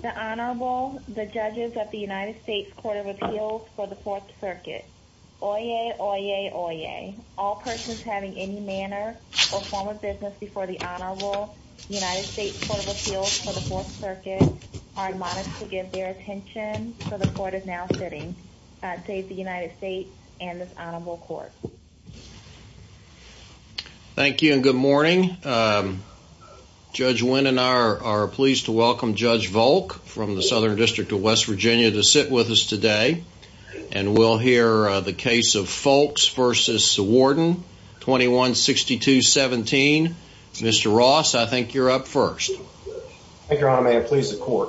The Honorable, the Judges of the United States Court of Appeals for the Fourth Circuit. Oyez, oyez, oyez. All persons having any manner or form of business before the Honorable, the United States Court of Appeals for the Fourth Circuit are admonished to give their state the United States and this Honorable Court. Thank you and good morning. Judge Wynn and I are pleased to welcome Judge Volk from the Southern District of West Virginia to sit with us today and we'll hear the case of Folkes v. Warden 2162-17. Mr. Ross, I think you're up first. Thank you, Your Honor. May I please the court?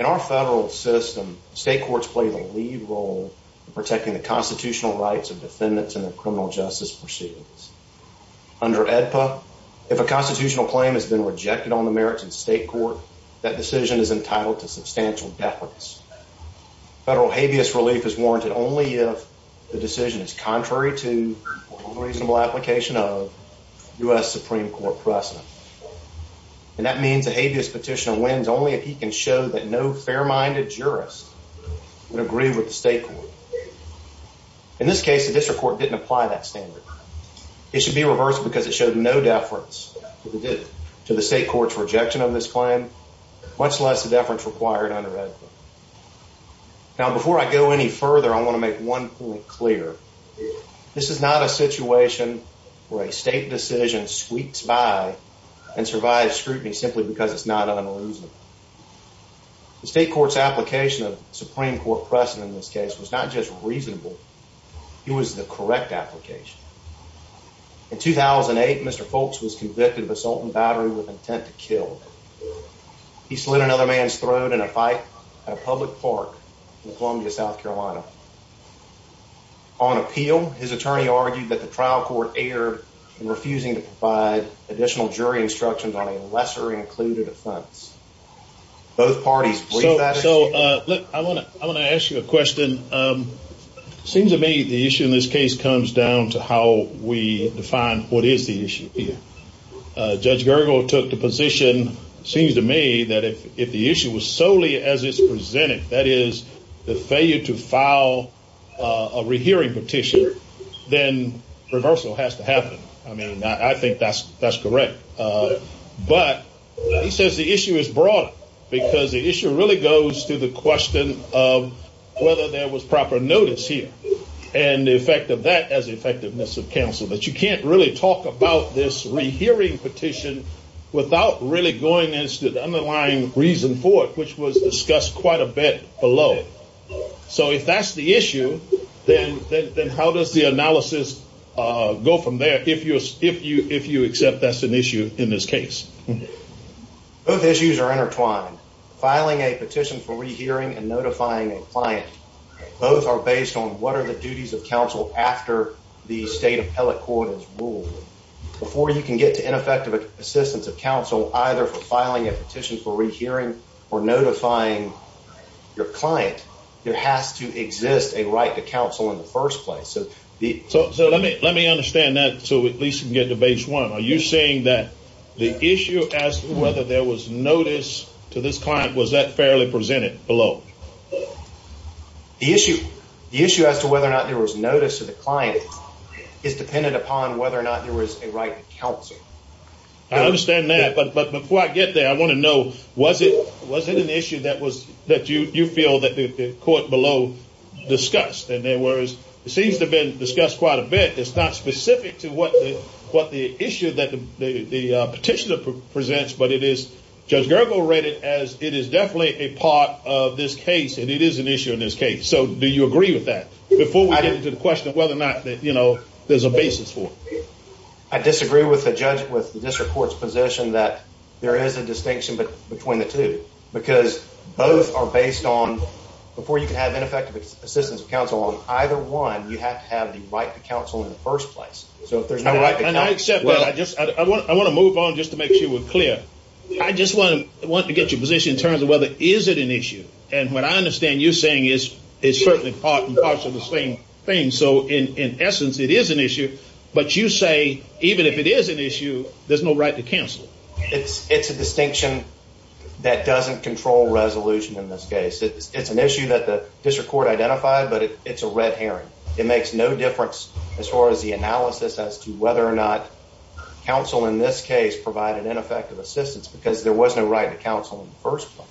In our federal system, state courts play the lead role in protecting the constitutional rights of defendants in their criminal justice proceedings. Under AEDPA, if a constitutional claim has been rejected on the merits in state court, that decision is entitled to substantial deference. Federal habeas relief is warranted only if the And that means a habeas petition of Wynn's only if he can show that no fair-minded jurist would agree with the state court. In this case, the district court didn't apply that standard. It should be reversed because it showed no deference to the state court's rejection of this plan, much less the deference required under AEDPA. Now, before I go any further, I want to make one point clear. This is not a situation where a state decision sweeps by and survives scrutiny simply because it's not un-elusive. The state court's application of Supreme Court precedent in this case was not just reasonable, it was the correct application. In 2008, Mr. Folkes was convicted of assault and battery with intent to kill. He slid another man's throat in a fight at a public park in Columbia, South Carolina. On appeal, his attorney argued that the trial court erred in refusing to provide additional jury instructions on a lesser-included offense. So, look, I want to ask you a question. It seems to me the issue in this case comes down to how we define what is the issue here. Judge Gergel took the position, it seems to me, that if the case is presented, that is, the failure to file a rehearing petition, then reversal has to happen. I mean, I think that's correct. But he says the issue is broad because the issue really goes to the question of whether there was proper notice here, and the effect of that as effectiveness of counsel. But you can't really talk about this rehearing petition without really going into the underlying reason for it, which was discussed quite a bit below. So if that's the issue, then how does the analysis go from there, if you accept that's an issue in this case? Both issues are intertwined. Filing a petition for rehearing and notifying a client, both are based on what are the duties of counsel after the state appellate court has ruled. Before you can get to ineffective assistance of counsel, either for filing a petition for rehearing or notifying your client, there has to exist a right to counsel in the first place. So let me understand that so we at least can get to base one. Are you saying that the issue as to whether there was notice to this client, was that fairly presented below? The issue as to whether or not there was notice to the client is dependent upon whether or not there was a right to counsel. I understand that, but before I get there, I want to know, was it an issue that you feel that the court below discussed? And there was, it seems to have been discussed quite a bit. It's not specific to what the issue that the petitioner presents, but it is, Judge Gergel read it as it is definitely a part of this case, and it is an issue in this case. So do you agree with that? Before we get into the question of whether or not there's a basis for it. I disagree with the judge, with the district court's position that there is a distinction between the two, because both are based on, before you can have ineffective assistance of counsel on either one, you have to have the right to counsel in the first place. So if there's no right to counsel. I accept that. I just, I want to move on just to make sure we're clear. I just want to get your position in terms of whether is it an issue. And what I understand you're saying is, it's certainly part and parcel of the same thing. So in essence, it is an issue, but you say, even if it is an issue, there's no right to counsel. It's, it's a distinction that doesn't control resolution in this case. It's an issue that the district court identified, but it's a red herring. It makes no difference as far as the analysis as to whether or not counsel in this case provide an ineffective assistance because there was no right to counsel in the first place.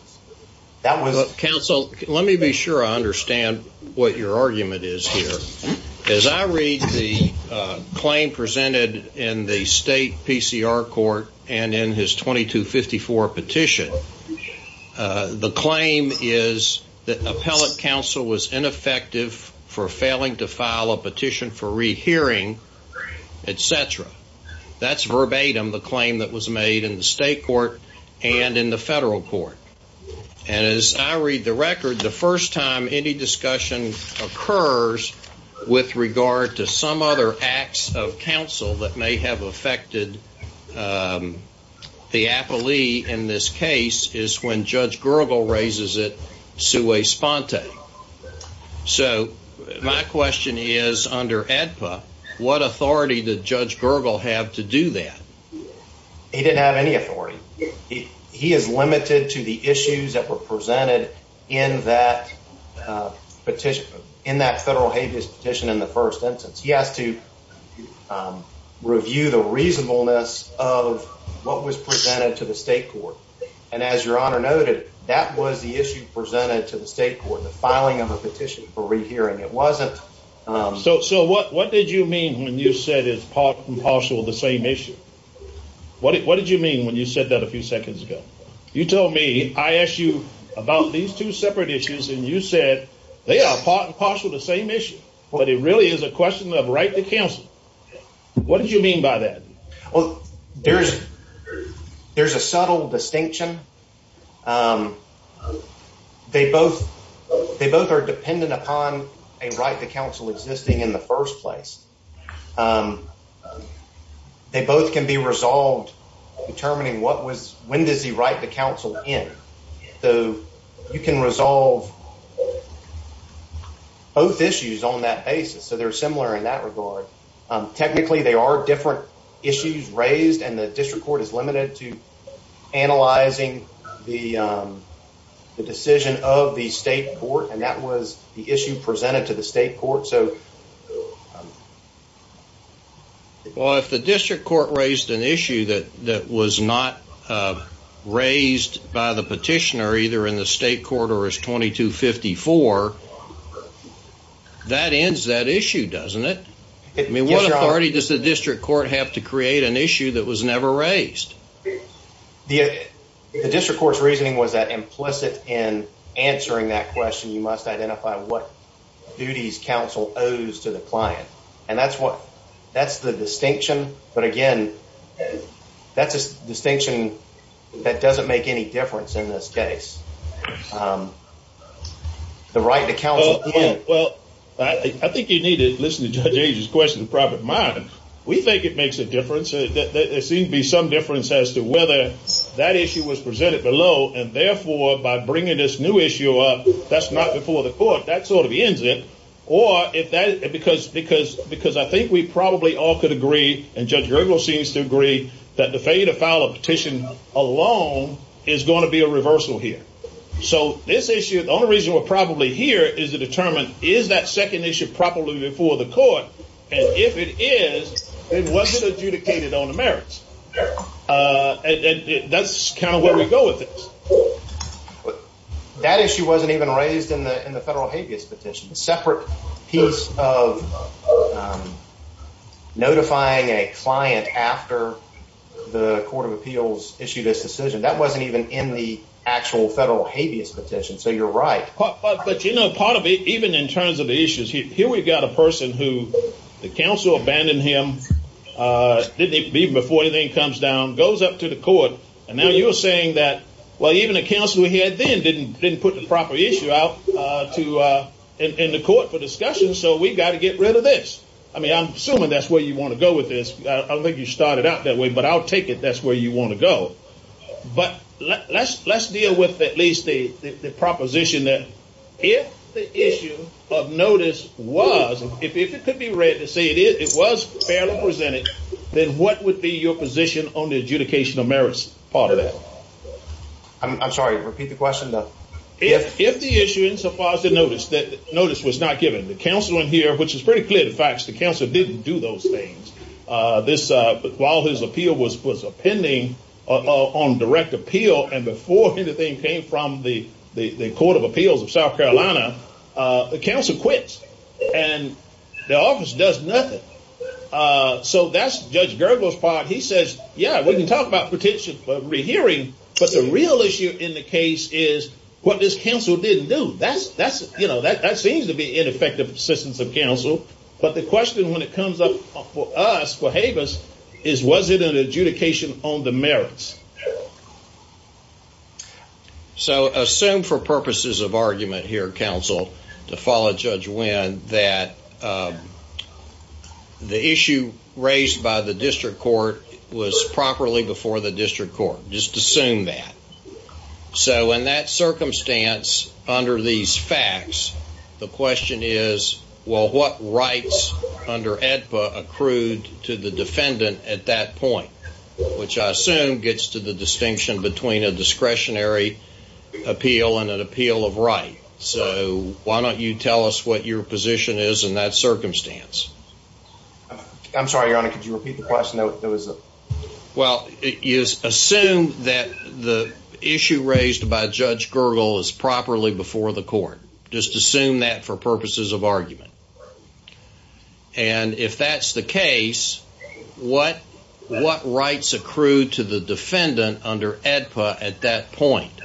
That was a counsel. Let me be sure I understand what your argument is here. As I read the claim presented in the state PCR court and in his 2254 petition, the claim is that appellate counsel was ineffective for failing to file a petition for rehearing, et cetera. That's verbatim, the claim that was made in the state court and in the federal court. And as I read the record, the first time any discussion occurs with regard to some other acts of counsel that may have affected the appellee in this case is when Judge Gergel raises it sui sponte. So my question is under ADPA, what authority did Judge Gergel have to do that? He didn't have any authority. He is limited to the issues that were presented in that petition in that federal habeas petition in the first instance. He has to review the reasonableness of what was presented to the state court. And as your honor noted, that was the issue presented to the state court, the filing of a petition for rehearing. It wasn't so. So what what did you mean when you said it's partial the same issue? What did you mean when you said that a few seconds ago? You told me I asked you about these two separate issues and you said they are part and parcel of the same issue. But it really is a question of right to counsel. What did you mean by that? There's there's a subtle distinction. They both they both are dependent upon a right to counsel existing in the first place. They both can be resolved determining what was when does he write the counsel in. So you can resolve both issues on that basis. So they're similar in that regard. Technically, they are different issues raised and the district court is limited to analyzing the the decision of the state court. And that was the issue presented to the state court. So if the district court raised an issue that that was not raised by the petitioner, either in the state court or as 2254, that ends that issue, doesn't it? I mean, what authority does the district court have to create an issue that was never raised? The district court's reasoning was that implicit in answering that question, you must identify what duties counsel owes to the client. And the right to counsel. Well, I think you need to listen to Judge Age's question in private mind. We think it makes a difference. There seems to be some difference as to whether that issue was presented below. And therefore, by bringing this new issue up, that's not before the court. That sort of ends it. Or if that because because because I think we probably all could agree. And Judge Gergel seems to agree that the failure to file a petition alone is going to be a reversal here. So this issue, the only reason we're probably here is to determine is that second issue properly before the court. And if it is, it wasn't adjudicated on the merits. And that's kind of where we go with it. That issue wasn't even raised in the in the federal habeas petition separate piece of notifying a client after the Court of Appeals issued this decision that wasn't even in the actual federal habeas petition. So you're right. But you know, part of it, even in terms of the issues here, we've got a person who the council abandoned him. Didn't even before anything comes down, goes up to the I mean, I'm assuming that's where you want to go with this. I don't think you started out that way, but I'll take it. That's where you want to go. But let's let's deal with at least the proposition that if the issue of notice was if it could be read to say it was fairly presented, then what would be your position on the adjudication of merits? I'm sorry. Repeat the question, though. If if the issue in so far as the notice that notice was not given the council in here, which is pretty clear, the facts, the council didn't do those things. This while his appeal was was a pending on direct appeal. And before anything came from the the Court of Appeals of South Carolina, the council quits and the office does nothing. So that's Judge Gerber's part. He says, yeah, we can talk about potential rehearing, but the real issue in the case is what this council didn't do. That's that's you know, that that seems to be ineffective assistance of counsel. But the question when it comes up for us, for Havas, is was it an adjudication on the merits? So assume for purposes of argument here, counsel, to follow Judge Wynn that the issue raised by the district court was properly before the district court. Just assume that. So in that circumstance, under these facts, the question is, well, what rights under AEDPA accrued to the defendant at that point, which I assume gets to the distinction between a discretionary appeal and an appeal of right. So why don't you tell us what your position is in that circumstance? I'm sorry, Your Honor. Could you repeat the question? It was well, it is assumed that the issue raised by Judge Gerber is properly before the court. Just assume that for purposes of argument. And if that's the case, what what rights accrue to the defendant under AEDPA at that point,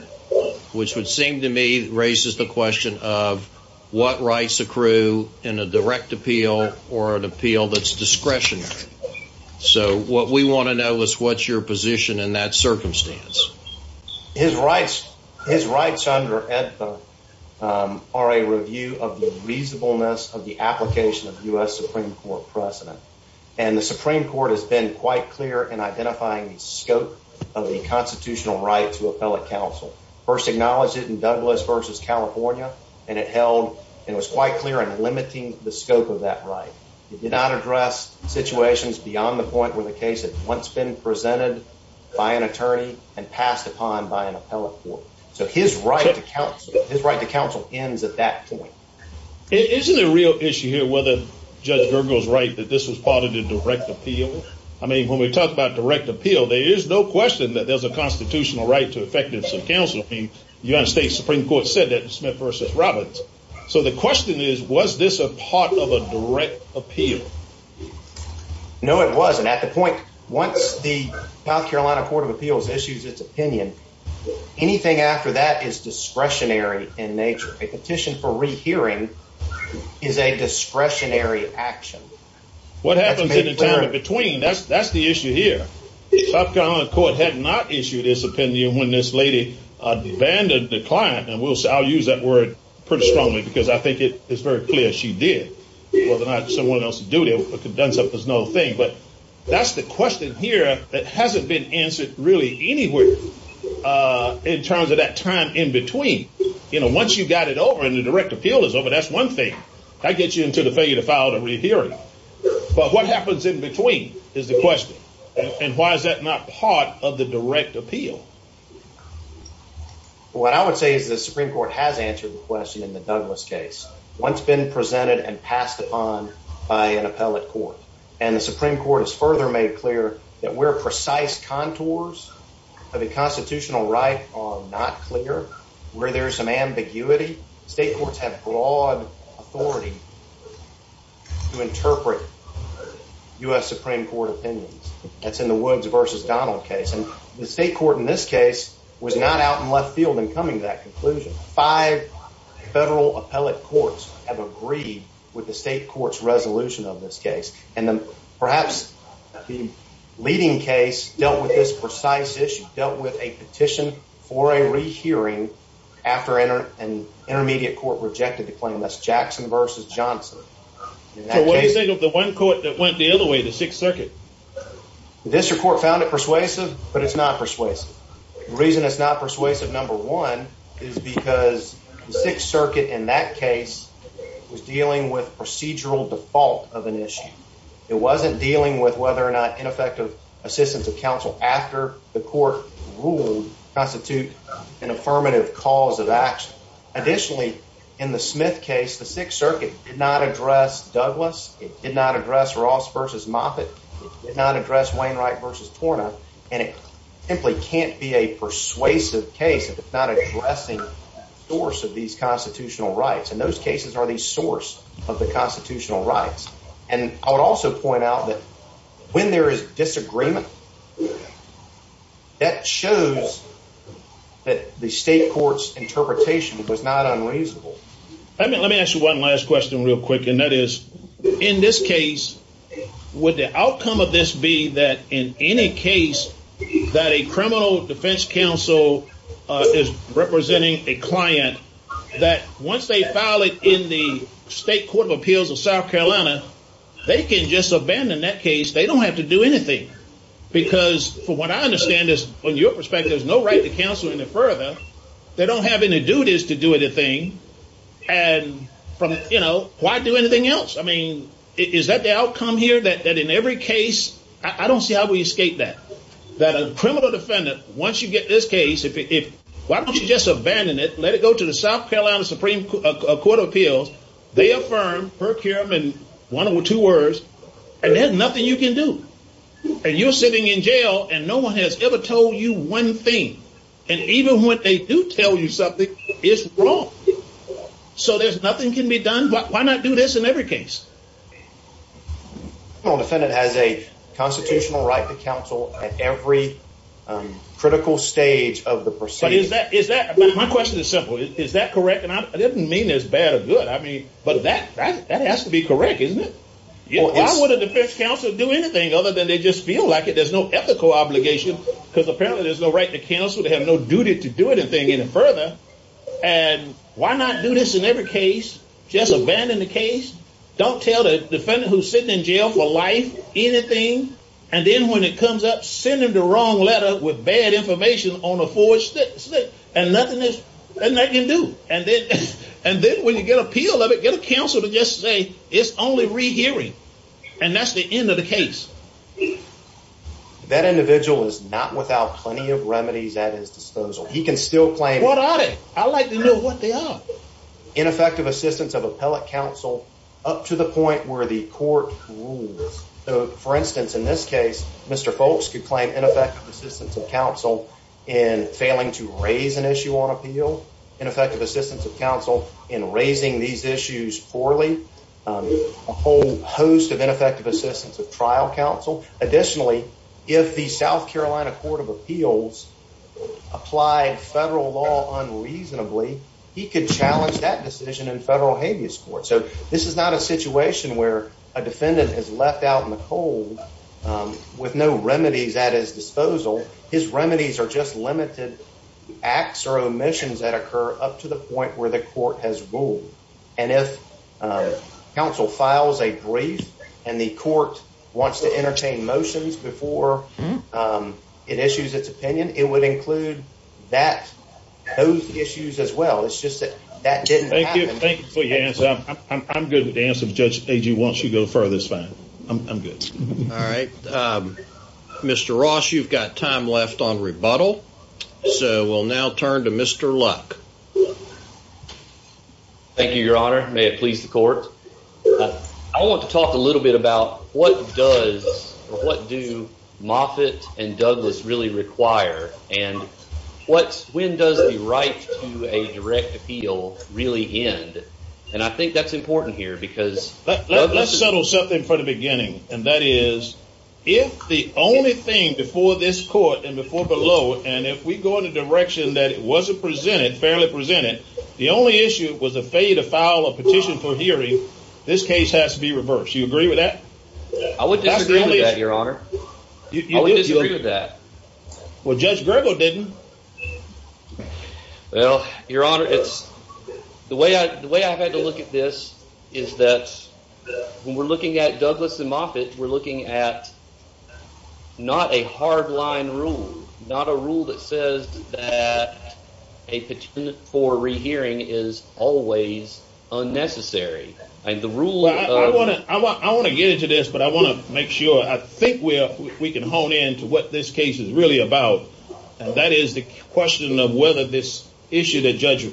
which would seem to me raises the question of what rights accrue in a direct appeal or an appeal that's discretionary. So what we want to know is what's your position in that circumstance? His rights, his rights under AEDPA are a review of the reasonableness of the application of U.S. Supreme Court precedent. And the Supreme Court has been quite clear in identifying the scope of the constitutional right to appellate counsel. First acknowledged it in Douglas versus California, and it held it was quite clear and limiting the scope of that right. It did not address situations beyond the point where the case had once been presented by an attorney and passed upon by an appellate court. So his right to counsel, his right to counsel ends at that point. Isn't it a real issue here whether Judge Gerber was right that this was part of the direct appeal? I mean, when we talk about direct appeal, there is no question that there's a constitutional right to effective counsel. I mean, the United States Supreme Court said that in Smith versus Roberts. So the question is, was this a part of a direct appeal? No, it wasn't. At the point, once the South Carolina Court of Appeals issues its opinion, anything after that is discretionary in nature. A petition for rehearing is a discretionary action. What happens in the time in between? That's that's the issue here. South Carolina Court had not issued its opinion when this lady abandoned the client. And I'll use that word pretty strongly because I think it is very clear she did. Whether or not someone else is due to condense up is no thing. But that's the question here that hasn't been answered really anywhere in terms of that time in between. You know, once you've got it over and the direct appeal is over, that's one thing. That gets you into the failure to file the rehearing. But what happens in between is the question. And why is that not part of the direct appeal? What I would say is the Supreme Court has answered the question in the Douglas case once been presented and passed upon by an appellate court. And the Supreme Court has further made clear that we're precise contours of the constitutional right are not clear where there is some ambiguity. State courts have broad authority to interpret U.S. Supreme Court opinions. That's in the Woods versus Donald case. And the state court in this case was not out in left field and coming to that conclusion. Five federal appellate courts have agreed with the state court's resolution of this case. Perhaps the leading case dealt with this precise issue, dealt with a petition for a rehearing after an intermediate court rejected the claim. That's Jackson versus Johnson. So what do you think of the one court that went the other way, the Sixth Circuit? This court found it persuasive, but it's not persuasive. The reason it's not persuasive, number one, is because the Sixth Circuit in that case was dealing with procedural default of an issue. It wasn't dealing with whether or not ineffective assistance of counsel after the court ruled constitute an affirmative cause of action. Additionally, in the Smith case, the Sixth Circuit did not address Douglas. It did not address Ross versus Moffitt. It did not address Wainwright versus Torna. And it simply can't be a persuasive case if it's not addressing the source of these constitutional rights. And those cases are the source of the constitutional rights. And I would also point out that when there is disagreement, that shows that the state court's interpretation was not unreasonable. Let me ask you one last question real quick. And that is, in this case, would the outcome of this be that in any case that a criminal defense counsel is representing a client, that once they file it in the state court of appeals of South Carolina, they can just abandon that case. They don't have to do anything. Because from what I understand is, from your perspective, there's no right to counsel any further. They don't have any duties to do anything. And from, you know, why do anything else? I mean, is that the outcome here? That in every case, I don't see how we escape that. That a criminal defendant, once you get this case, why don't you just abandon it? Let it go to the South Carolina Supreme Court of Appeals. They affirm, procurement, one or two words. And there's nothing you can do. And you're sitting in jail, and no one has ever told you one thing. And even when they do tell you something, it's wrong. So there's nothing can be done. Why not do this in every case? A criminal defendant has a constitutional right to counsel at every critical stage of the proceedings. My question is simple. Is that correct? And I didn't mean as bad or good. I mean, but that has to be correct, isn't it? Why would a defense counsel do anything other than they just feel like it? There's no ethical obligation. Because apparently there's no right to counsel. They have no duty to do anything any further. And why not do this in every case? Just abandon the case. Don't tell the defendant who's sitting in jail for life anything. And then when it comes up, send them the wrong letter with bad information on a forged slip. And nothing they can do. And then when you get appeal of it, get a counsel to just say it's only rehearing. And that's the end of the case. That individual is not without plenty of remedies at his disposal. He can still claim ineffective assistance of appellate counsel up to the point where the court rules. For instance, in this case, Mr. Folks could claim ineffective assistance of counsel in failing to raise an issue on appeal. Ineffective assistance of counsel in raising these issues poorly. A whole host of ineffective assistance of trial counsel. Additionally, if the South Carolina Court of Appeals applied federal law unreasonably, he could challenge that decision in federal habeas court. So this is not a situation where a defendant is left out in the cold with no remedies at his disposal. His remedies are just limited acts or omissions that occur up to the point where the court has ruled. And if counsel files a brief and the court wants to entertain motions before it issues its opinion, it would include that, those issues as well. It's just that that didn't happen. Thank you. Thank you for your answer. I'm good with the answer. Judge Agee, once you go further, it's fine. I'm good. All right. Mr. Ross, you've got time left on rebuttal. So we'll now turn to Mr. Luck. Thank you, Your Honor. May it please the court. I want to talk a little bit about what does or what do Moffitt and Douglas really require? And when does the right to a direct appeal really end? And I think that's important here because... Let's settle something for the beginning. And that is if the only thing before this court and before below, and if we go in a direction that it wasn't presented, fairly presented, the only issue was a failure to file a petition for hearing, this case has to be reversed. Do you agree with that? I would disagree with that, Your Honor. I would disagree with that. Well, Judge Grego didn't. Well, Your Honor, the way I've had to look at this is that when we're looking at Douglas and Moffitt, we're looking at not a hard line rule, not a rule that says that a petition for rehearing is always unnecessary. I want to get into this, but I want to make sure. I think we can hone in to what this case is really about, and that is the question of whether this issue that Judge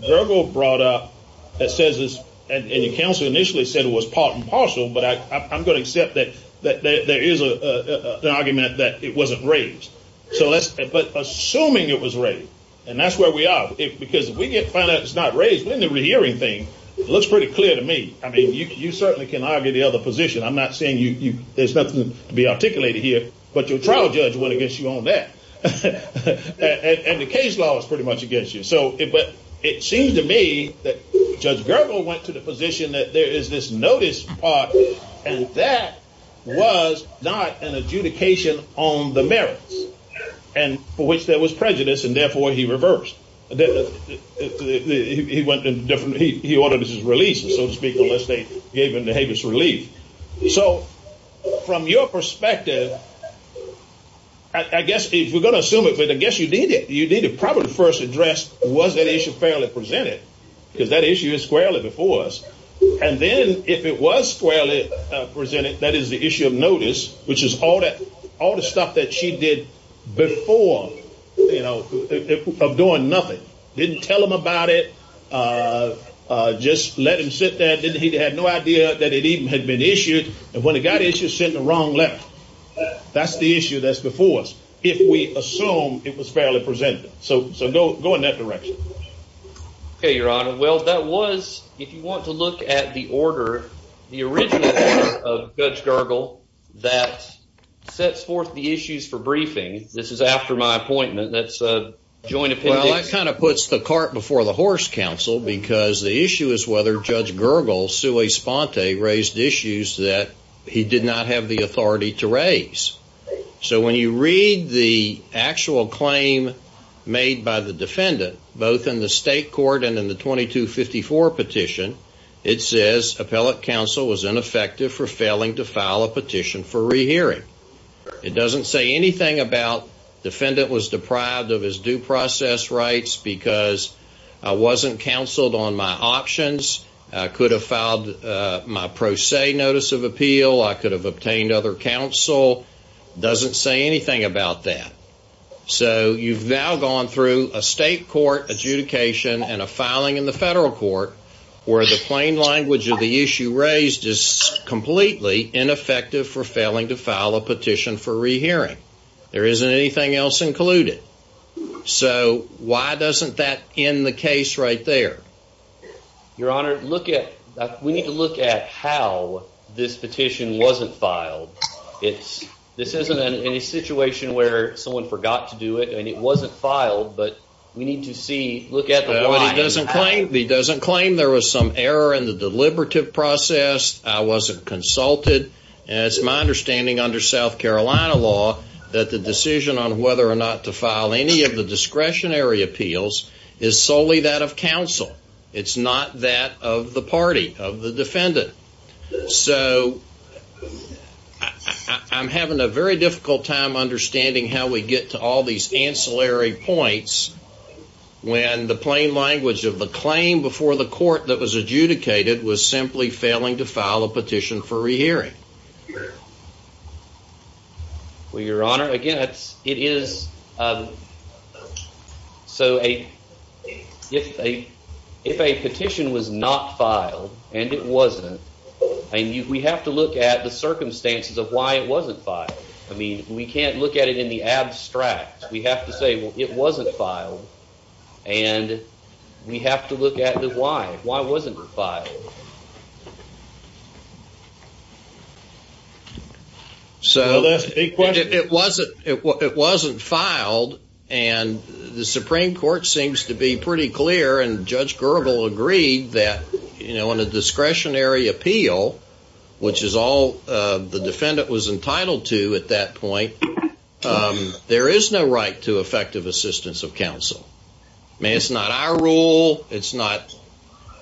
Grego brought up that says this, and the counsel initially said it was part and parcel, but I'm going to accept that there is an argument that it wasn't raised. But assuming it was raised, and that's where we are, because if we find out it's not raised, then the rehearing thing looks pretty clear to me. I mean, you certainly can argue the other position. I'm not saying there's nothing to be articulated here, but your trial judge went against you on that, and the case law was pretty much against you. But it seems to me that Judge Grego went to the position that there is this notice part, and that was not an adjudication on the merits, for which there was prejudice, and therefore he reversed. He ordered his release, so to speak, unless they gave him the habeas relief. So from your perspective, I guess if we're going to assume it, but I guess you need to probably first address was that issue fairly presented, because that issue is squarely before us. And then if it was squarely presented, that is the issue of notice, which is all the stuff that she did before, of doing nothing. Didn't tell him about it. Just let him sit there. He had no idea that it even had been issued. And when it got issued, sent the wrong letter. That's the issue that's before us, if we assume it was fairly presented. So go in that direction. OK, Your Honor. Well, that was, if you want to look at the order, the original order of Judge Gergel that sets forth the issues for briefing. This is after my appointment. That's a joint opinion. Well, that kind of puts the cart before the horse, counsel, because the issue is whether Judge Gergel sui sponte raised issues that he did not have the authority to raise. So when you read the actual claim made by the defendant, both in the state court and in the 2254 petition, it says appellate counsel was ineffective for failing to file a petition for rehearing. It doesn't say anything about defendant was deprived of his due process rights because I wasn't counseled on my options. I could have filed my pro se notice of appeal. I could have obtained other counsel. Doesn't say anything about that. So you've now gone through a state court adjudication and a filing in the federal court where the plain language of the issue raised is completely ineffective for failing to file a petition for rehearing. There isn't anything else included. So why doesn't that end the case right there? Your Honor, look at that. We need to look at how this petition wasn't filed. This isn't in a situation where someone forgot to do it and it wasn't filed, but we need to look at the why. He doesn't claim there was some error in the deliberative process. I wasn't consulted. It's my understanding under South Carolina law that the decision on whether or not to file any of the discretionary appeals is solely that of counsel. It's not that of the party, of the defendant. So I'm having a very difficult time understanding how we get to all these ancillary points when the plain language of the claim before the court that was adjudicated was simply failing to file a petition for rehearing. Well, Your Honor, again, if a petition was not filed and it wasn't, we have to look at the circumstances of why it wasn't filed. I mean, we can't look at it in the abstract. We have to say it wasn't filed and we have to look at the why. Why wasn't it filed? So it wasn't filed and the Supreme Court seems to be pretty clear and Judge Gerbel agreed that on a discretionary appeal, which is all the defendant was entitled to at that point, there is no right to effective assistance of counsel. I mean, it's not our rule. It's not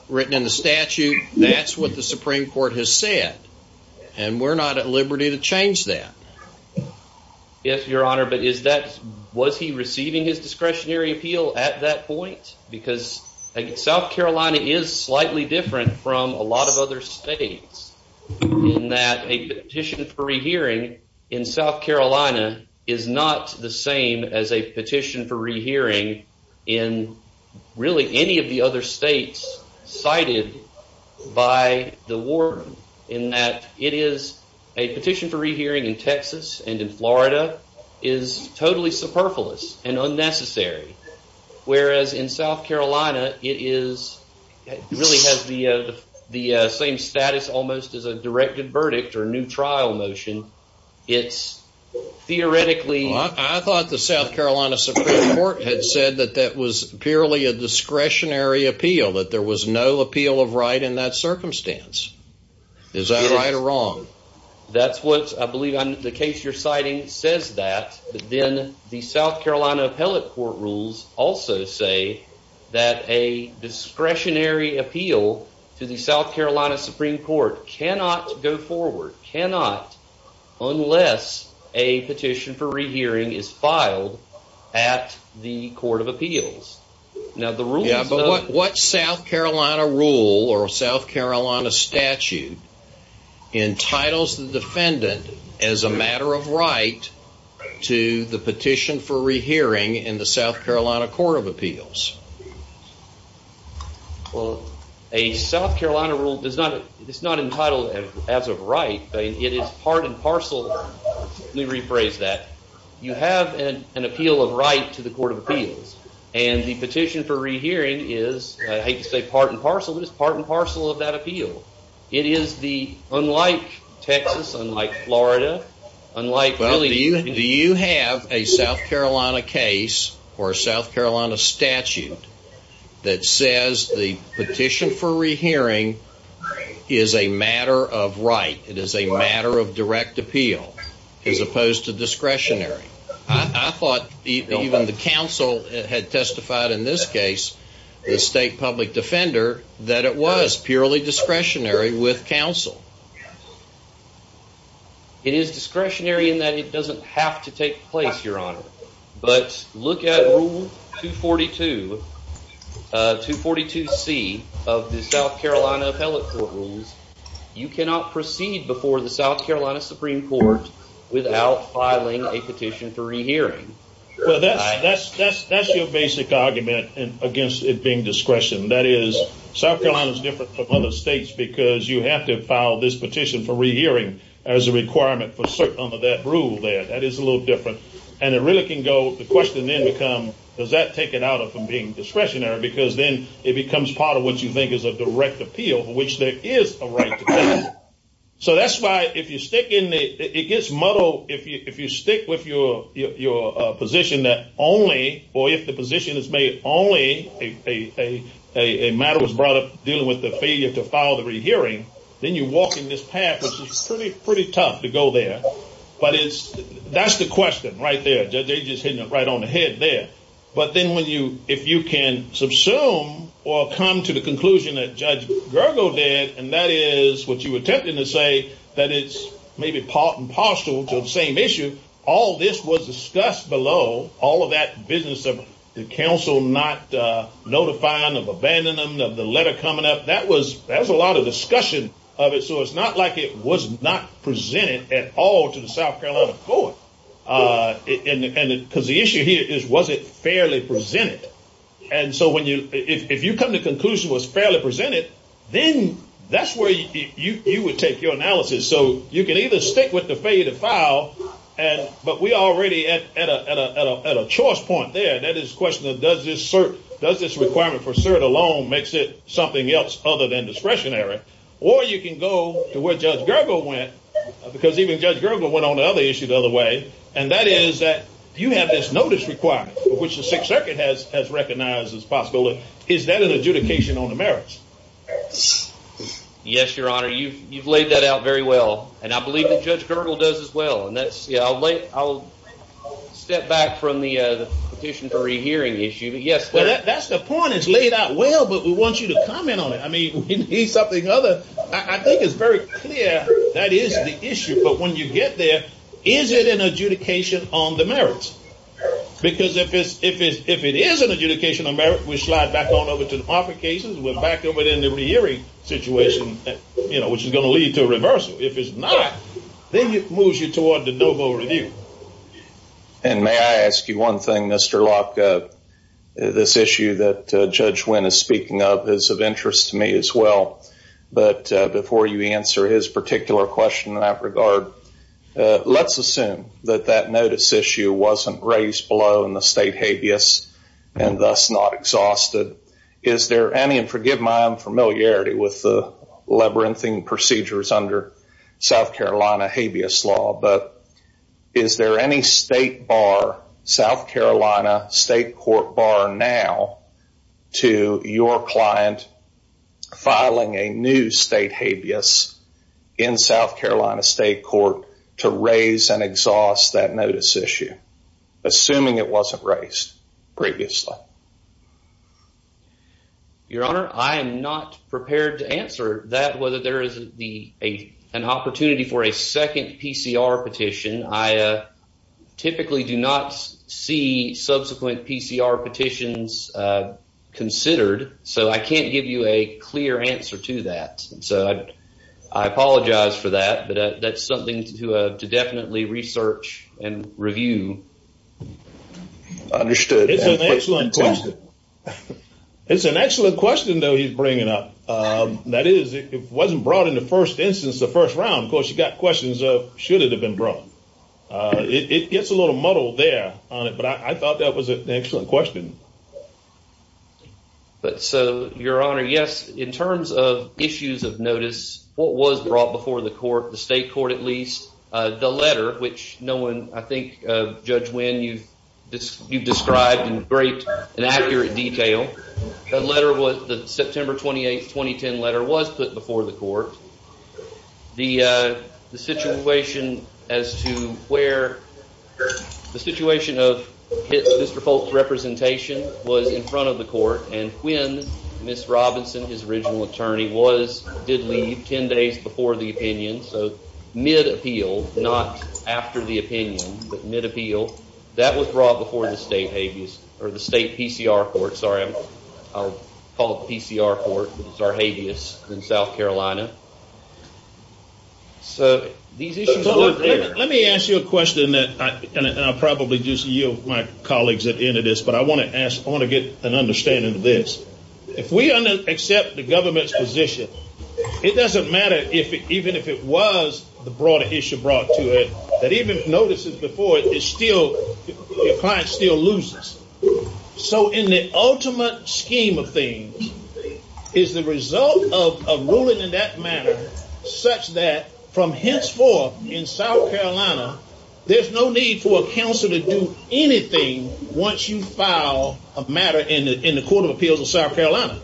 written in the statute. That's what the Supreme Court has said. And we're not at liberty to change that. Yes, Your Honor, but was he receiving his discretionary appeal at that point? Because South Carolina is slightly different from a lot of other states in that a petition for rehearing in South Carolina is not the same as a petition for rehearing in really any of the other states cited by the warden in that it is a petition for rehearing in Texas and in Florida is totally superfluous and unnecessary. Whereas in South Carolina, it really has the same status almost as a directed verdict or a new trial motion. It's theoretically... I thought the South Carolina Supreme Court had said that that was purely a discretionary appeal, that there was no appeal of right in that circumstance. Is that right or wrong? That's what I believe on the case you're citing says that. But then the South Carolina Appellate Court rules also say that a discretionary appeal to the South Carolina Supreme Court cannot go forward, cannot, unless a petition for rehearing is filed at the Court of Appeals. But what South Carolina rule or South Carolina statute entitles the defendant as a matter of right to the petition for rehearing in the South Carolina Court of Appeals? Well, a South Carolina rule is not entitled as of right, but it is part and parcel. Let me rephrase that. You have an appeal of right to the Court of Appeals, and the petition for rehearing is, I hate to say part and parcel, but it's part and parcel of that appeal. Unlike Texas, unlike Florida, unlike... Do you have a South Carolina case or a South Carolina statute that says the petition for rehearing is a matter of right, it is a matter of direct appeal, as opposed to discretionary? I thought even the counsel had testified in this case, the state public defender, that it was purely discretionary with counsel. It is discretionary in that it doesn't have to take place, Your Honor. But look at Rule 242C of the South Carolina Appellate Court Rules. You cannot proceed before the South Carolina Supreme Court without filing a petition for rehearing. Well, that's your basic argument against it being discretion. That is, South Carolina is different from other states because you have to file this petition for rehearing as a requirement for certain of that rule there. That is a little different. And it really can go, the question then becomes, does that take it out of being discretionary? Because then it becomes part of what you think is a direct appeal, which there is a right to appeal. So that's why if you stick with your position that only, or if the position is made only a matter was brought up dealing with the failure to file the rehearing, then you walk in this path, which is pretty tough to go there. But that's the question right there. They're just hitting it right on the head there. But then when you, if you can subsume or come to the conclusion that Judge Gergel did, and that is what you were attempting to say, that it's maybe part and parcel to the same issue, all this was discussed below, all of that business of the counsel not notifying of abandonment of the letter coming up, that was a lot of discussion of it. So it's not like it was not presented at all to the South Carolina court. And because the issue here is, was it fairly presented? And so when you, if you come to the conclusion it was fairly presented, then that's where you would take your analysis. So you can either stick with the failure to file, but we already at a choice point there, and that is the question of does this cert, does this requirement for cert alone makes it something else other than discretionary? Or you can go to where Judge Gergel went, because even Judge Gergel went on another issue the other way, and that is that you have this notice requirement, which the Sixth Circuit has recognized as possible. Is that an adjudication on the merits? Yes, Your Honor, you've laid that out very well. And I believe that Judge Gergel does as well. And that's, yeah, I'll step back from the petition for rehearing issue. Yes, that's the point. It's laid out well, but we want you to comment on it. I mean, we need something other. I think it's very clear that is the issue. But when you get there, is it an adjudication on the merits? Because if it is an adjudication on merits, we slide back on over to the offer cases. We're back over there in the rehearing situation, which is going to lead to a reversal. If it's not, then it moves you toward the no vote review. And may I ask you one thing, Mr. Locke? This issue that Judge Wynn is speaking of is of interest to me as well. But before you answer his particular question in that regard, let's assume that that notice issue wasn't raised below in the state habeas and thus not exhausted. Is there any, and forgive my unfamiliarity with the labyrinthing procedures under South Carolina habeas law, but is there any state bar, South Carolina state court bar now, to your client filing a new state habeas in South Carolina state court to raise and exhaust that notice issue, assuming it wasn't raised previously? Your Honor, I am not prepared to answer that, whether there is an opportunity for a second PCR petition. I typically do not see subsequent PCR petitions considered, so I can't give you a clear answer to that. I apologize for that, but that's something to definitely research and review. Understood. It's an excellent question. It's an excellent question, though, he's bringing up. That is, if it wasn't brought in the first instance, the first round, of course, you've got questions of should it have been brought. It gets a little muddled there on it, but I thought that was an excellent question. But, so, Your Honor, yes, in terms of issues of notice, what was brought before the court, the state court at least, the letter, which no one, I think, Judge Winn, you've described in great and accurate detail. The letter was, the September 28, 2010 letter was put before the court. The situation as to where, the situation of Mr. Folt's representation was in front of the court, and Quinn, Ms. Robinson, his original attorney, was, did leave 10 days before the opinion. So, mid-appeal, not after the opinion, but mid-appeal. That was brought before the state habeas, or the state PCR court, sorry. I'll call it the PCR court, which is our habeas in South Carolina. So, these issues are there. Let me ask you a question, and I'll probably just yield my colleagues at the end of this, but I want to ask, I want to get an understanding of this. If we accept the government's position, it doesn't matter, even if it was the broader issue brought to it, that even notices before it is still, the client still loses. So, in the ultimate scheme of things, is the result of a ruling in that matter, such that, from henceforth, in South Carolina, there's no need for a counselor to do anything once you file a matter in the Court of Appeals of South Carolina.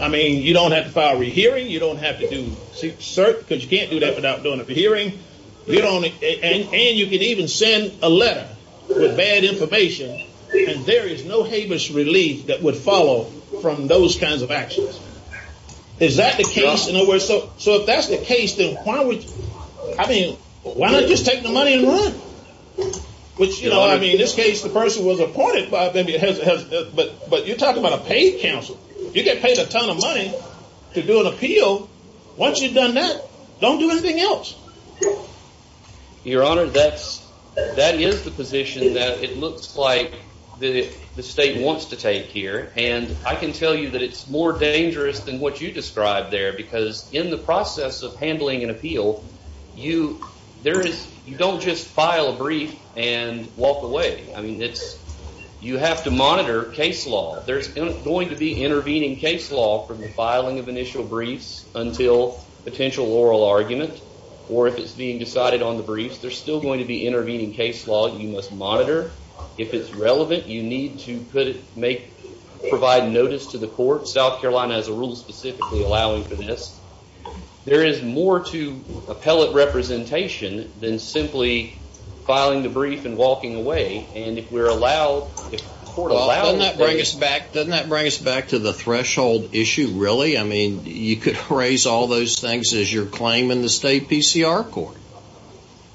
I mean, you don't have to file a rehearing, you don't have to do cert, because you can't do that without doing a hearing, and you can even send a letter with bad information, and there is no habeas relief that would follow from those kinds of actions. Is that the case? So, if that's the case, then why would, I mean, why not just take the money and run? Which, you know, I mean, in this case, the person was appointed, but you're talking about a paid counselor. So, once you've done that, don't do anything else. Your Honor, that is the position that it looks like the state wants to take here, and I can tell you that it's more dangerous than what you described there, because in the process of handling an appeal, you don't just file a brief and walk away. I mean, you have to monitor case law. There's going to be intervening case law from the filing of initial briefs until potential oral argument, or if it's being decided on the briefs, there's still going to be intervening case law you must monitor. If it's relevant, you need to provide notice to the court. South Carolina has a rule specifically allowing for this. There is more to appellate representation than simply filing the brief and walking away, and if we're allowed, if the court allows it. Well, doesn't that bring us back to the threshold issue, really? I mean, you could raise all those things as your claim in the state PCR court.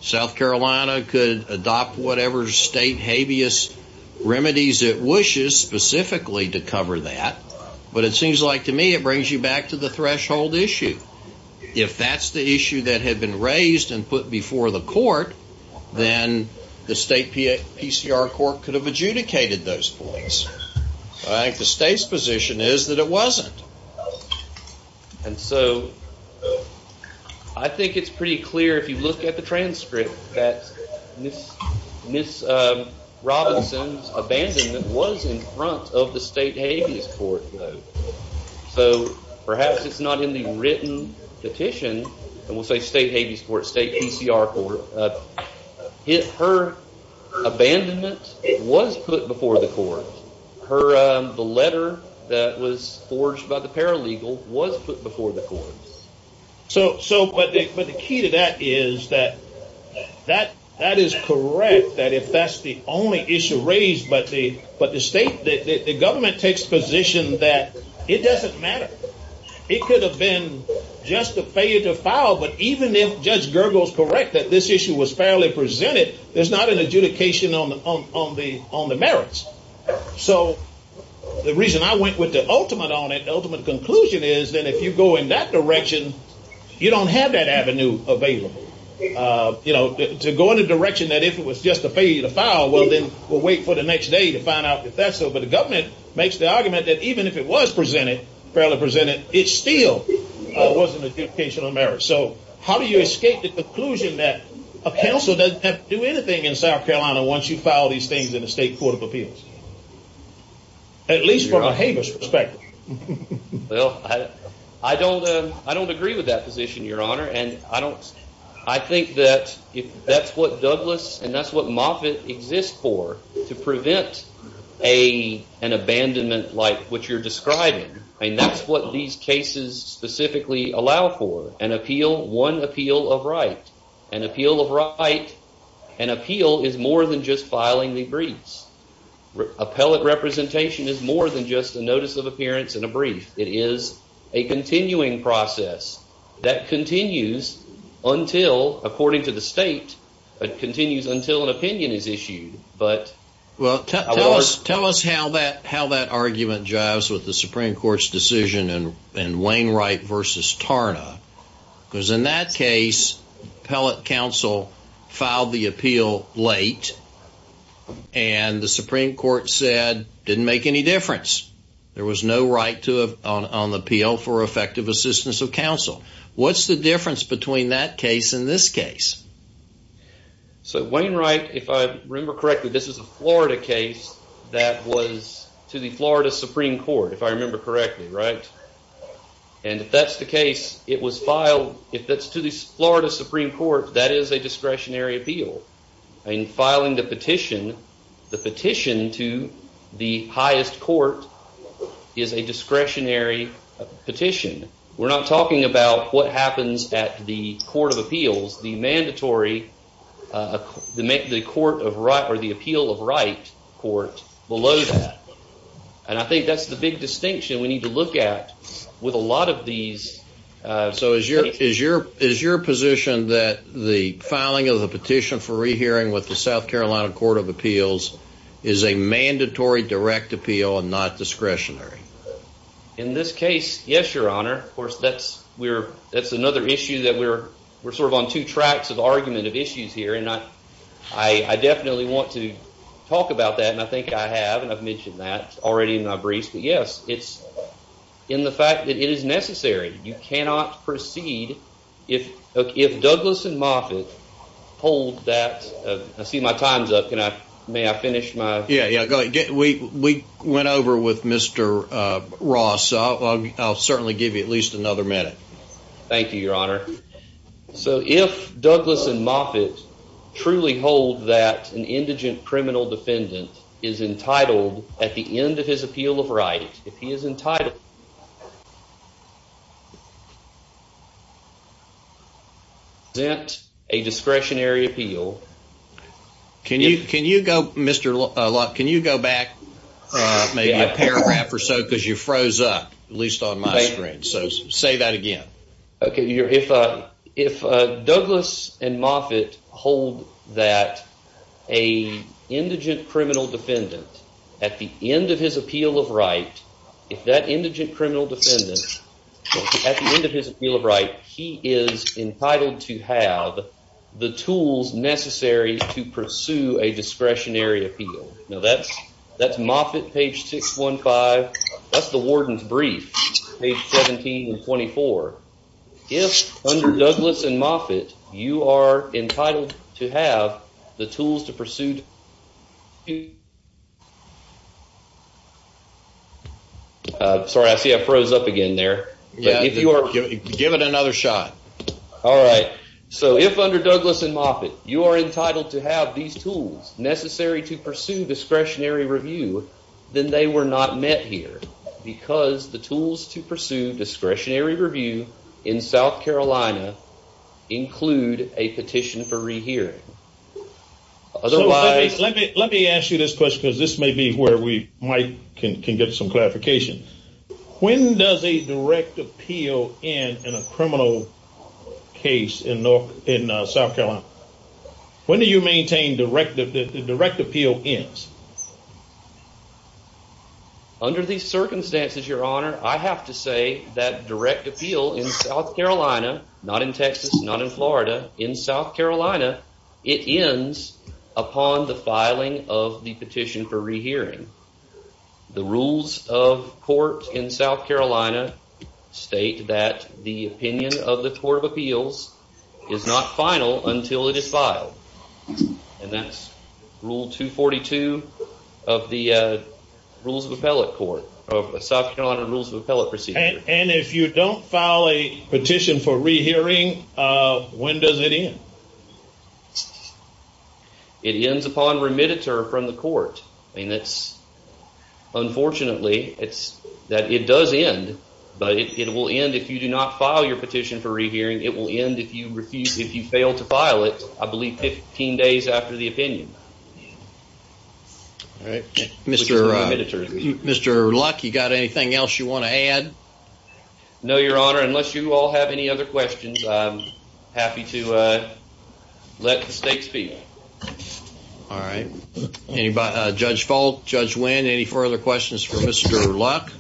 South Carolina could adopt whatever state habeas remedies it wishes specifically to cover that, but it seems like to me it brings you back to the threshold issue. If that's the issue that had been raised and put before the court, then the state PCR court could have adjudicated those points. I think the state's position is that it wasn't. And so I think it's pretty clear, if you look at the transcript, that Ms. Robinson's abandonment was in front of the state habeas court, though. So perhaps it's not in the written petition, and we'll say state habeas court, state PCR court. Her abandonment was put before the court. The letter that was forged by the paralegal was put before the court. But the key to that is that that is correct, that if that's the only issue raised, but the government takes position that it doesn't matter. It could have been just a failure to file, but even if Judge Gergel is correct that this issue was fairly presented, there's not an adjudication on the merits. So the reason I went with the ultimate on it, the ultimate conclusion, is that if you go in that direction, you don't have that avenue available. You know, to go in the direction that if it was just a failure to file, well, then we'll wait for the next day to find out if that's so. But the government makes the argument that even if it was presented, fairly presented, it still wasn't an adjudication on the merits. So how do you escape the conclusion that a counsel doesn't have to do anything in South Carolina once you file these things in a state court of appeals, at least from a habeas perspective? Well, I don't agree with that position, Your Honor, and I think that that's what Douglas and that's what Moffitt exists for, to prevent an abandonment like what you're describing. And that's what these cases specifically allow for, an appeal, one appeal of right. An appeal of right, an appeal is more than just filing the briefs. Appellate representation is more than just a notice of appearance and a brief. It is a continuing process that continues until, according to the state, it continues until an opinion is issued. Well, tell us how that argument jives with the Supreme Court's decision in Wainwright v. Tarna. Because in that case, appellate counsel filed the appeal late and the Supreme Court said it didn't make any difference. There was no right on the appeal for effective assistance of counsel. What's the difference between that case and this case? So Wainwright, if I remember correctly, this is a Florida case that was to the Florida Supreme Court, if I remember correctly, right? And if that's the case, it was filed, if it's to the Florida Supreme Court, that is a discretionary appeal. In filing the petition, the petition to the highest court is a discretionary petition. We're not talking about what happens at the court of appeals. The mandatory, the appeal of right court below that. And I think that's the big distinction we need to look at with a lot of these. So is your position that the filing of the petition for rehearing with the South Carolina Court of Appeals is a mandatory direct appeal and not discretionary? In this case, yes, Your Honor. Of course, that's another issue that we're sort of on two tracks of argument of issues here, and I definitely want to talk about that, and I think I have, and I've mentioned that already in my briefs. Yes, it's in the fact that it is necessary. You cannot proceed if Douglas and Moffitt hold that. I see my time's up. May I finish my? Yeah, yeah, go ahead. We went over with Mr. Ross. I'll certainly give you at least another minute. Thank you, Your Honor. So if Douglas and Moffitt truly hold that an indigent criminal defendant is entitled at the end of his appeal of right, if he is entitled to present a discretionary appeal. Can you go back maybe a paragraph or so because you froze up, at least on my screen. So say that again. Okay, if Douglas and Moffitt hold that an indigent criminal defendant at the end of his appeal of right, if that indigent criminal defendant at the end of his appeal of right, he is entitled to have the tools necessary to pursue a discretionary appeal. Now, that's Moffitt, page 615. That's the warden's brief, page 17 and 24. If under Douglas and Moffitt you are entitled to have the tools to pursue. Sorry, I see I froze up again there. Give it another shot. All right. So if under Douglas and Moffitt you are entitled to have these tools necessary to pursue discretionary review, then they were not met here because the tools to pursue discretionary review in South Carolina include a petition for rehearing. Let me ask you this question because this may be where we can get some clarification. When does a direct appeal end in a criminal case in South Carolina? When do you maintain that the direct appeal ends? Under these circumstances, Your Honor, I have to say that direct appeal in South Carolina, not in Texas, not in Florida, in South Carolina, it ends upon the filing of the petition for rehearing. The rules of court in South Carolina state that the opinion of the Court of Appeals is not final until it is filed. And that's rule 242 of the rules of appellate court, of South Carolina rules of appellate procedure. And if you don't file a petition for rehearing, when does it end? It ends upon remitter from the court. And it's unfortunately, it's that it does end, but it will end if you do not file your petition for rehearing. It will end if you refuse, if you fail to file it, I believe 15 days after the opinion. All right. Mr. Luck, you got anything else you want to add? No, Your Honor, unless you all have any other questions, I'm happy to let the stakes be. All right. Judge Folt, Judge Wynn, any further questions for Mr. Luck?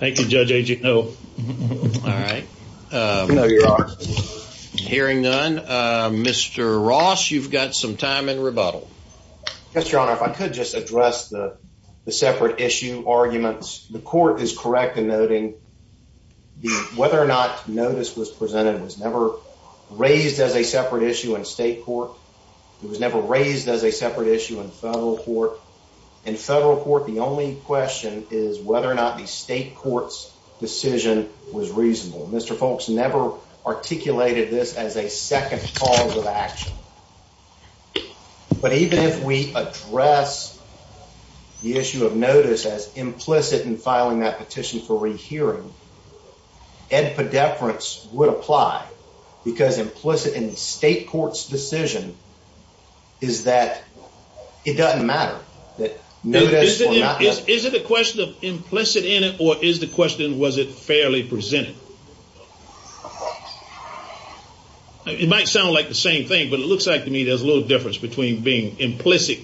Thank you, Judge Agineau. All right. Hearing none, Mr. Ross, you've got some time in rebuttal. Yes, Your Honor, if I could just address the separate issue arguments. The court is correct in noting whether or not notice was presented was never raised as a separate issue in state court. It was never raised as a separate issue in federal court. In federal court, the only question is whether or not the state court's decision was reasonable. Mr. Folt's never articulated this as a second cause of action. But even if we address the issue of notice as implicit in filing that petition for rehearing, edpedeperance would apply because implicit in the state court's decision is that it doesn't matter. Is it a question of implicit in it or is the question was it fairly presented? It might sound like the same thing, but it looks like to me there's a little difference between being implicit,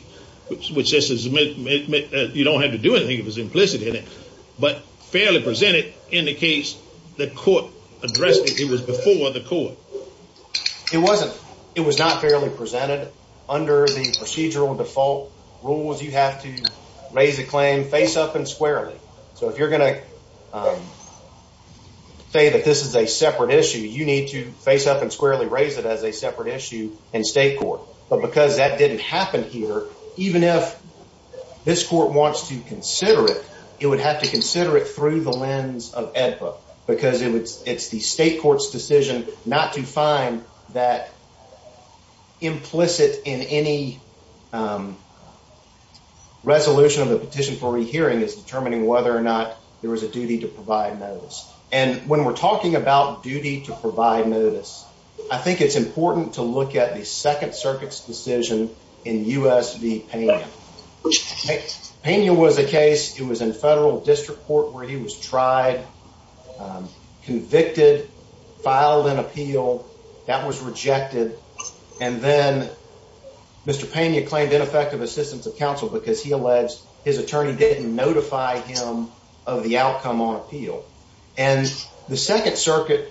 which says you don't have to do anything if it's implicit in it. But fairly presented indicates the court addressed it. It was before the court. It wasn't. It was not fairly presented. Under the procedural default rules, you have to raise a claim face up and squarely. So if you're going to say that this is a separate issue, you need to face up and squarely raise it as a separate issue in state court. But because that didn't happen here, even if this court wants to consider it, it would have to consider it through the lens of EDPA because it's the state court's decision not to find that whether or not there was a duty to provide notice. And when we're talking about duty to provide notice, I think it's important to look at the Second Circuit's decision in U.S. v. Pena. Pena was a case. It was in federal district court where he was tried, convicted, filed an appeal that was rejected. And then Mr. Pena claimed ineffective assistance of counsel because he alleged his attorney didn't notify him of the outcome on appeal. And the Second Circuit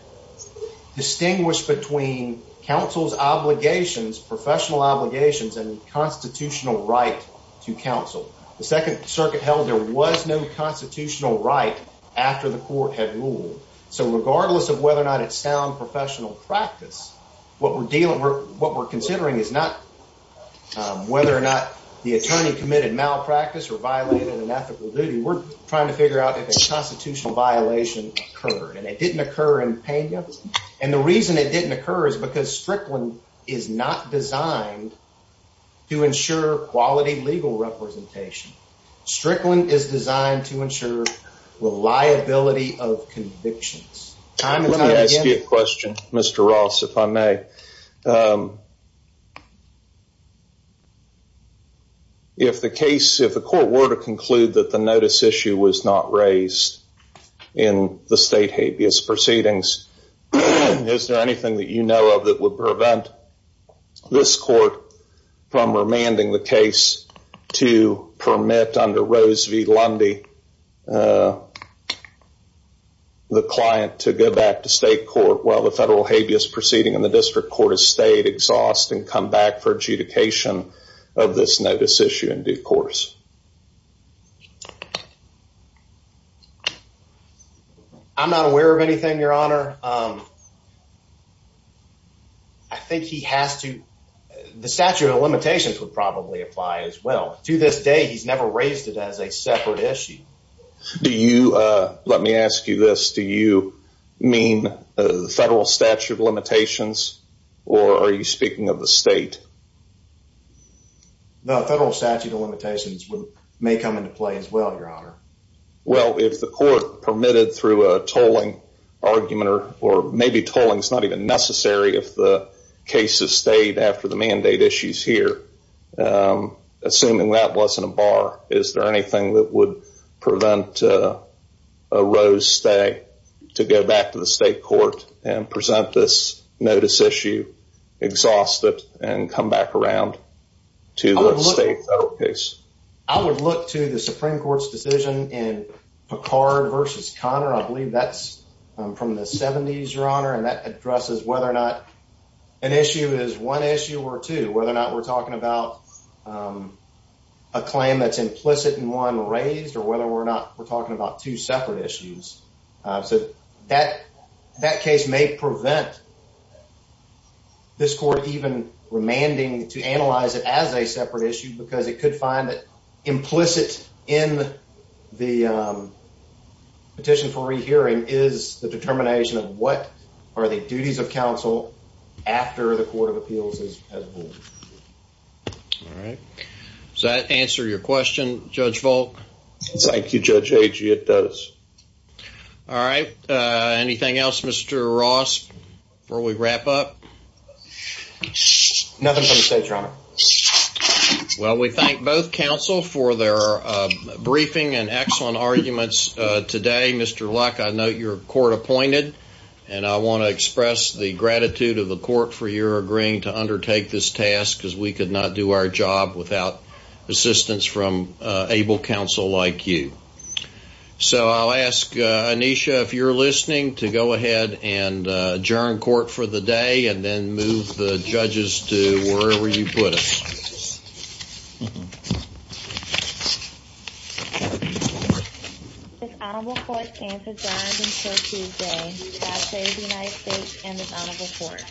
distinguished between counsel's obligations, professional obligations, and constitutional right to counsel. The Second Circuit held there was no constitutional right after the court had ruled. So regardless of whether or not it's sound professional practice, what we're considering is not whether or not the attorney committed malpractice or violated an ethical duty. We're trying to figure out if a constitutional violation occurred. And it didn't occur in Pena. And the reason it didn't occur is because Strickland is not designed to ensure quality legal representation. Strickland is designed to ensure reliability of convictions. Let me ask you a question, Mr. Ross, if I may. If the case, if the court were to conclude that the notice issue was not raised in the state habeas proceedings, is there anything that you know of that would prevent this court from remanding the case to permit under Rose v. Lundy the client to go back to state court while the federal habeas proceeding in the district court has stayed, exhausted, and come back for adjudication of this notice issue in due course? I'm not aware of anything, your honor. I think he has to. The statute of limitations would probably apply as well. To this day, he's never raised it as a separate issue. Do you let me ask you this. Do you mean the federal statute of limitations or are you speaking of the state? The federal statute of limitations may come into play as well, your honor. Well, if the court permitted through a tolling argument or maybe tolling is not even necessary if the case has stayed after the mandate issue is here, assuming that wasn't a bar, is there anything that would prevent a Rose stay to go back to the state court and present this notice issue, exhausted and come back around to the state case? I would look to the Supreme Court's decision in Picard versus Connor. I believe that's from the 70s, your honor, and that addresses whether or not an issue is one issue or two, whether or not we're talking about a claim that's implicit in one raised or whether or not we're talking about two separate issues. So that that case may prevent this court even remanding to analyze it as a separate issue, because it could find that implicit in the petition for rehearing is the determination of what are the duties of counsel after the court of appeals is. All right. Does that answer your question, Judge Volk? Thank you, Judge Agee. It does. All right. Anything else, Mr. Ross, before we wrap up? Nothing from the state, your honor. Well, we thank both counsel for their briefing and excellent arguments today. Mr. Luck, I know your court appointed, and I want to express the gratitude of the court for your agreeing to undertake this task, because we could not do our job without assistance from able counsel like you. So I'll ask Anisha, if you're listening, to go ahead and adjourn court for the day and then move the judges to wherever you put them. Thank you. This honorable court adjourns until Tuesday. God save the United States and this honorable court.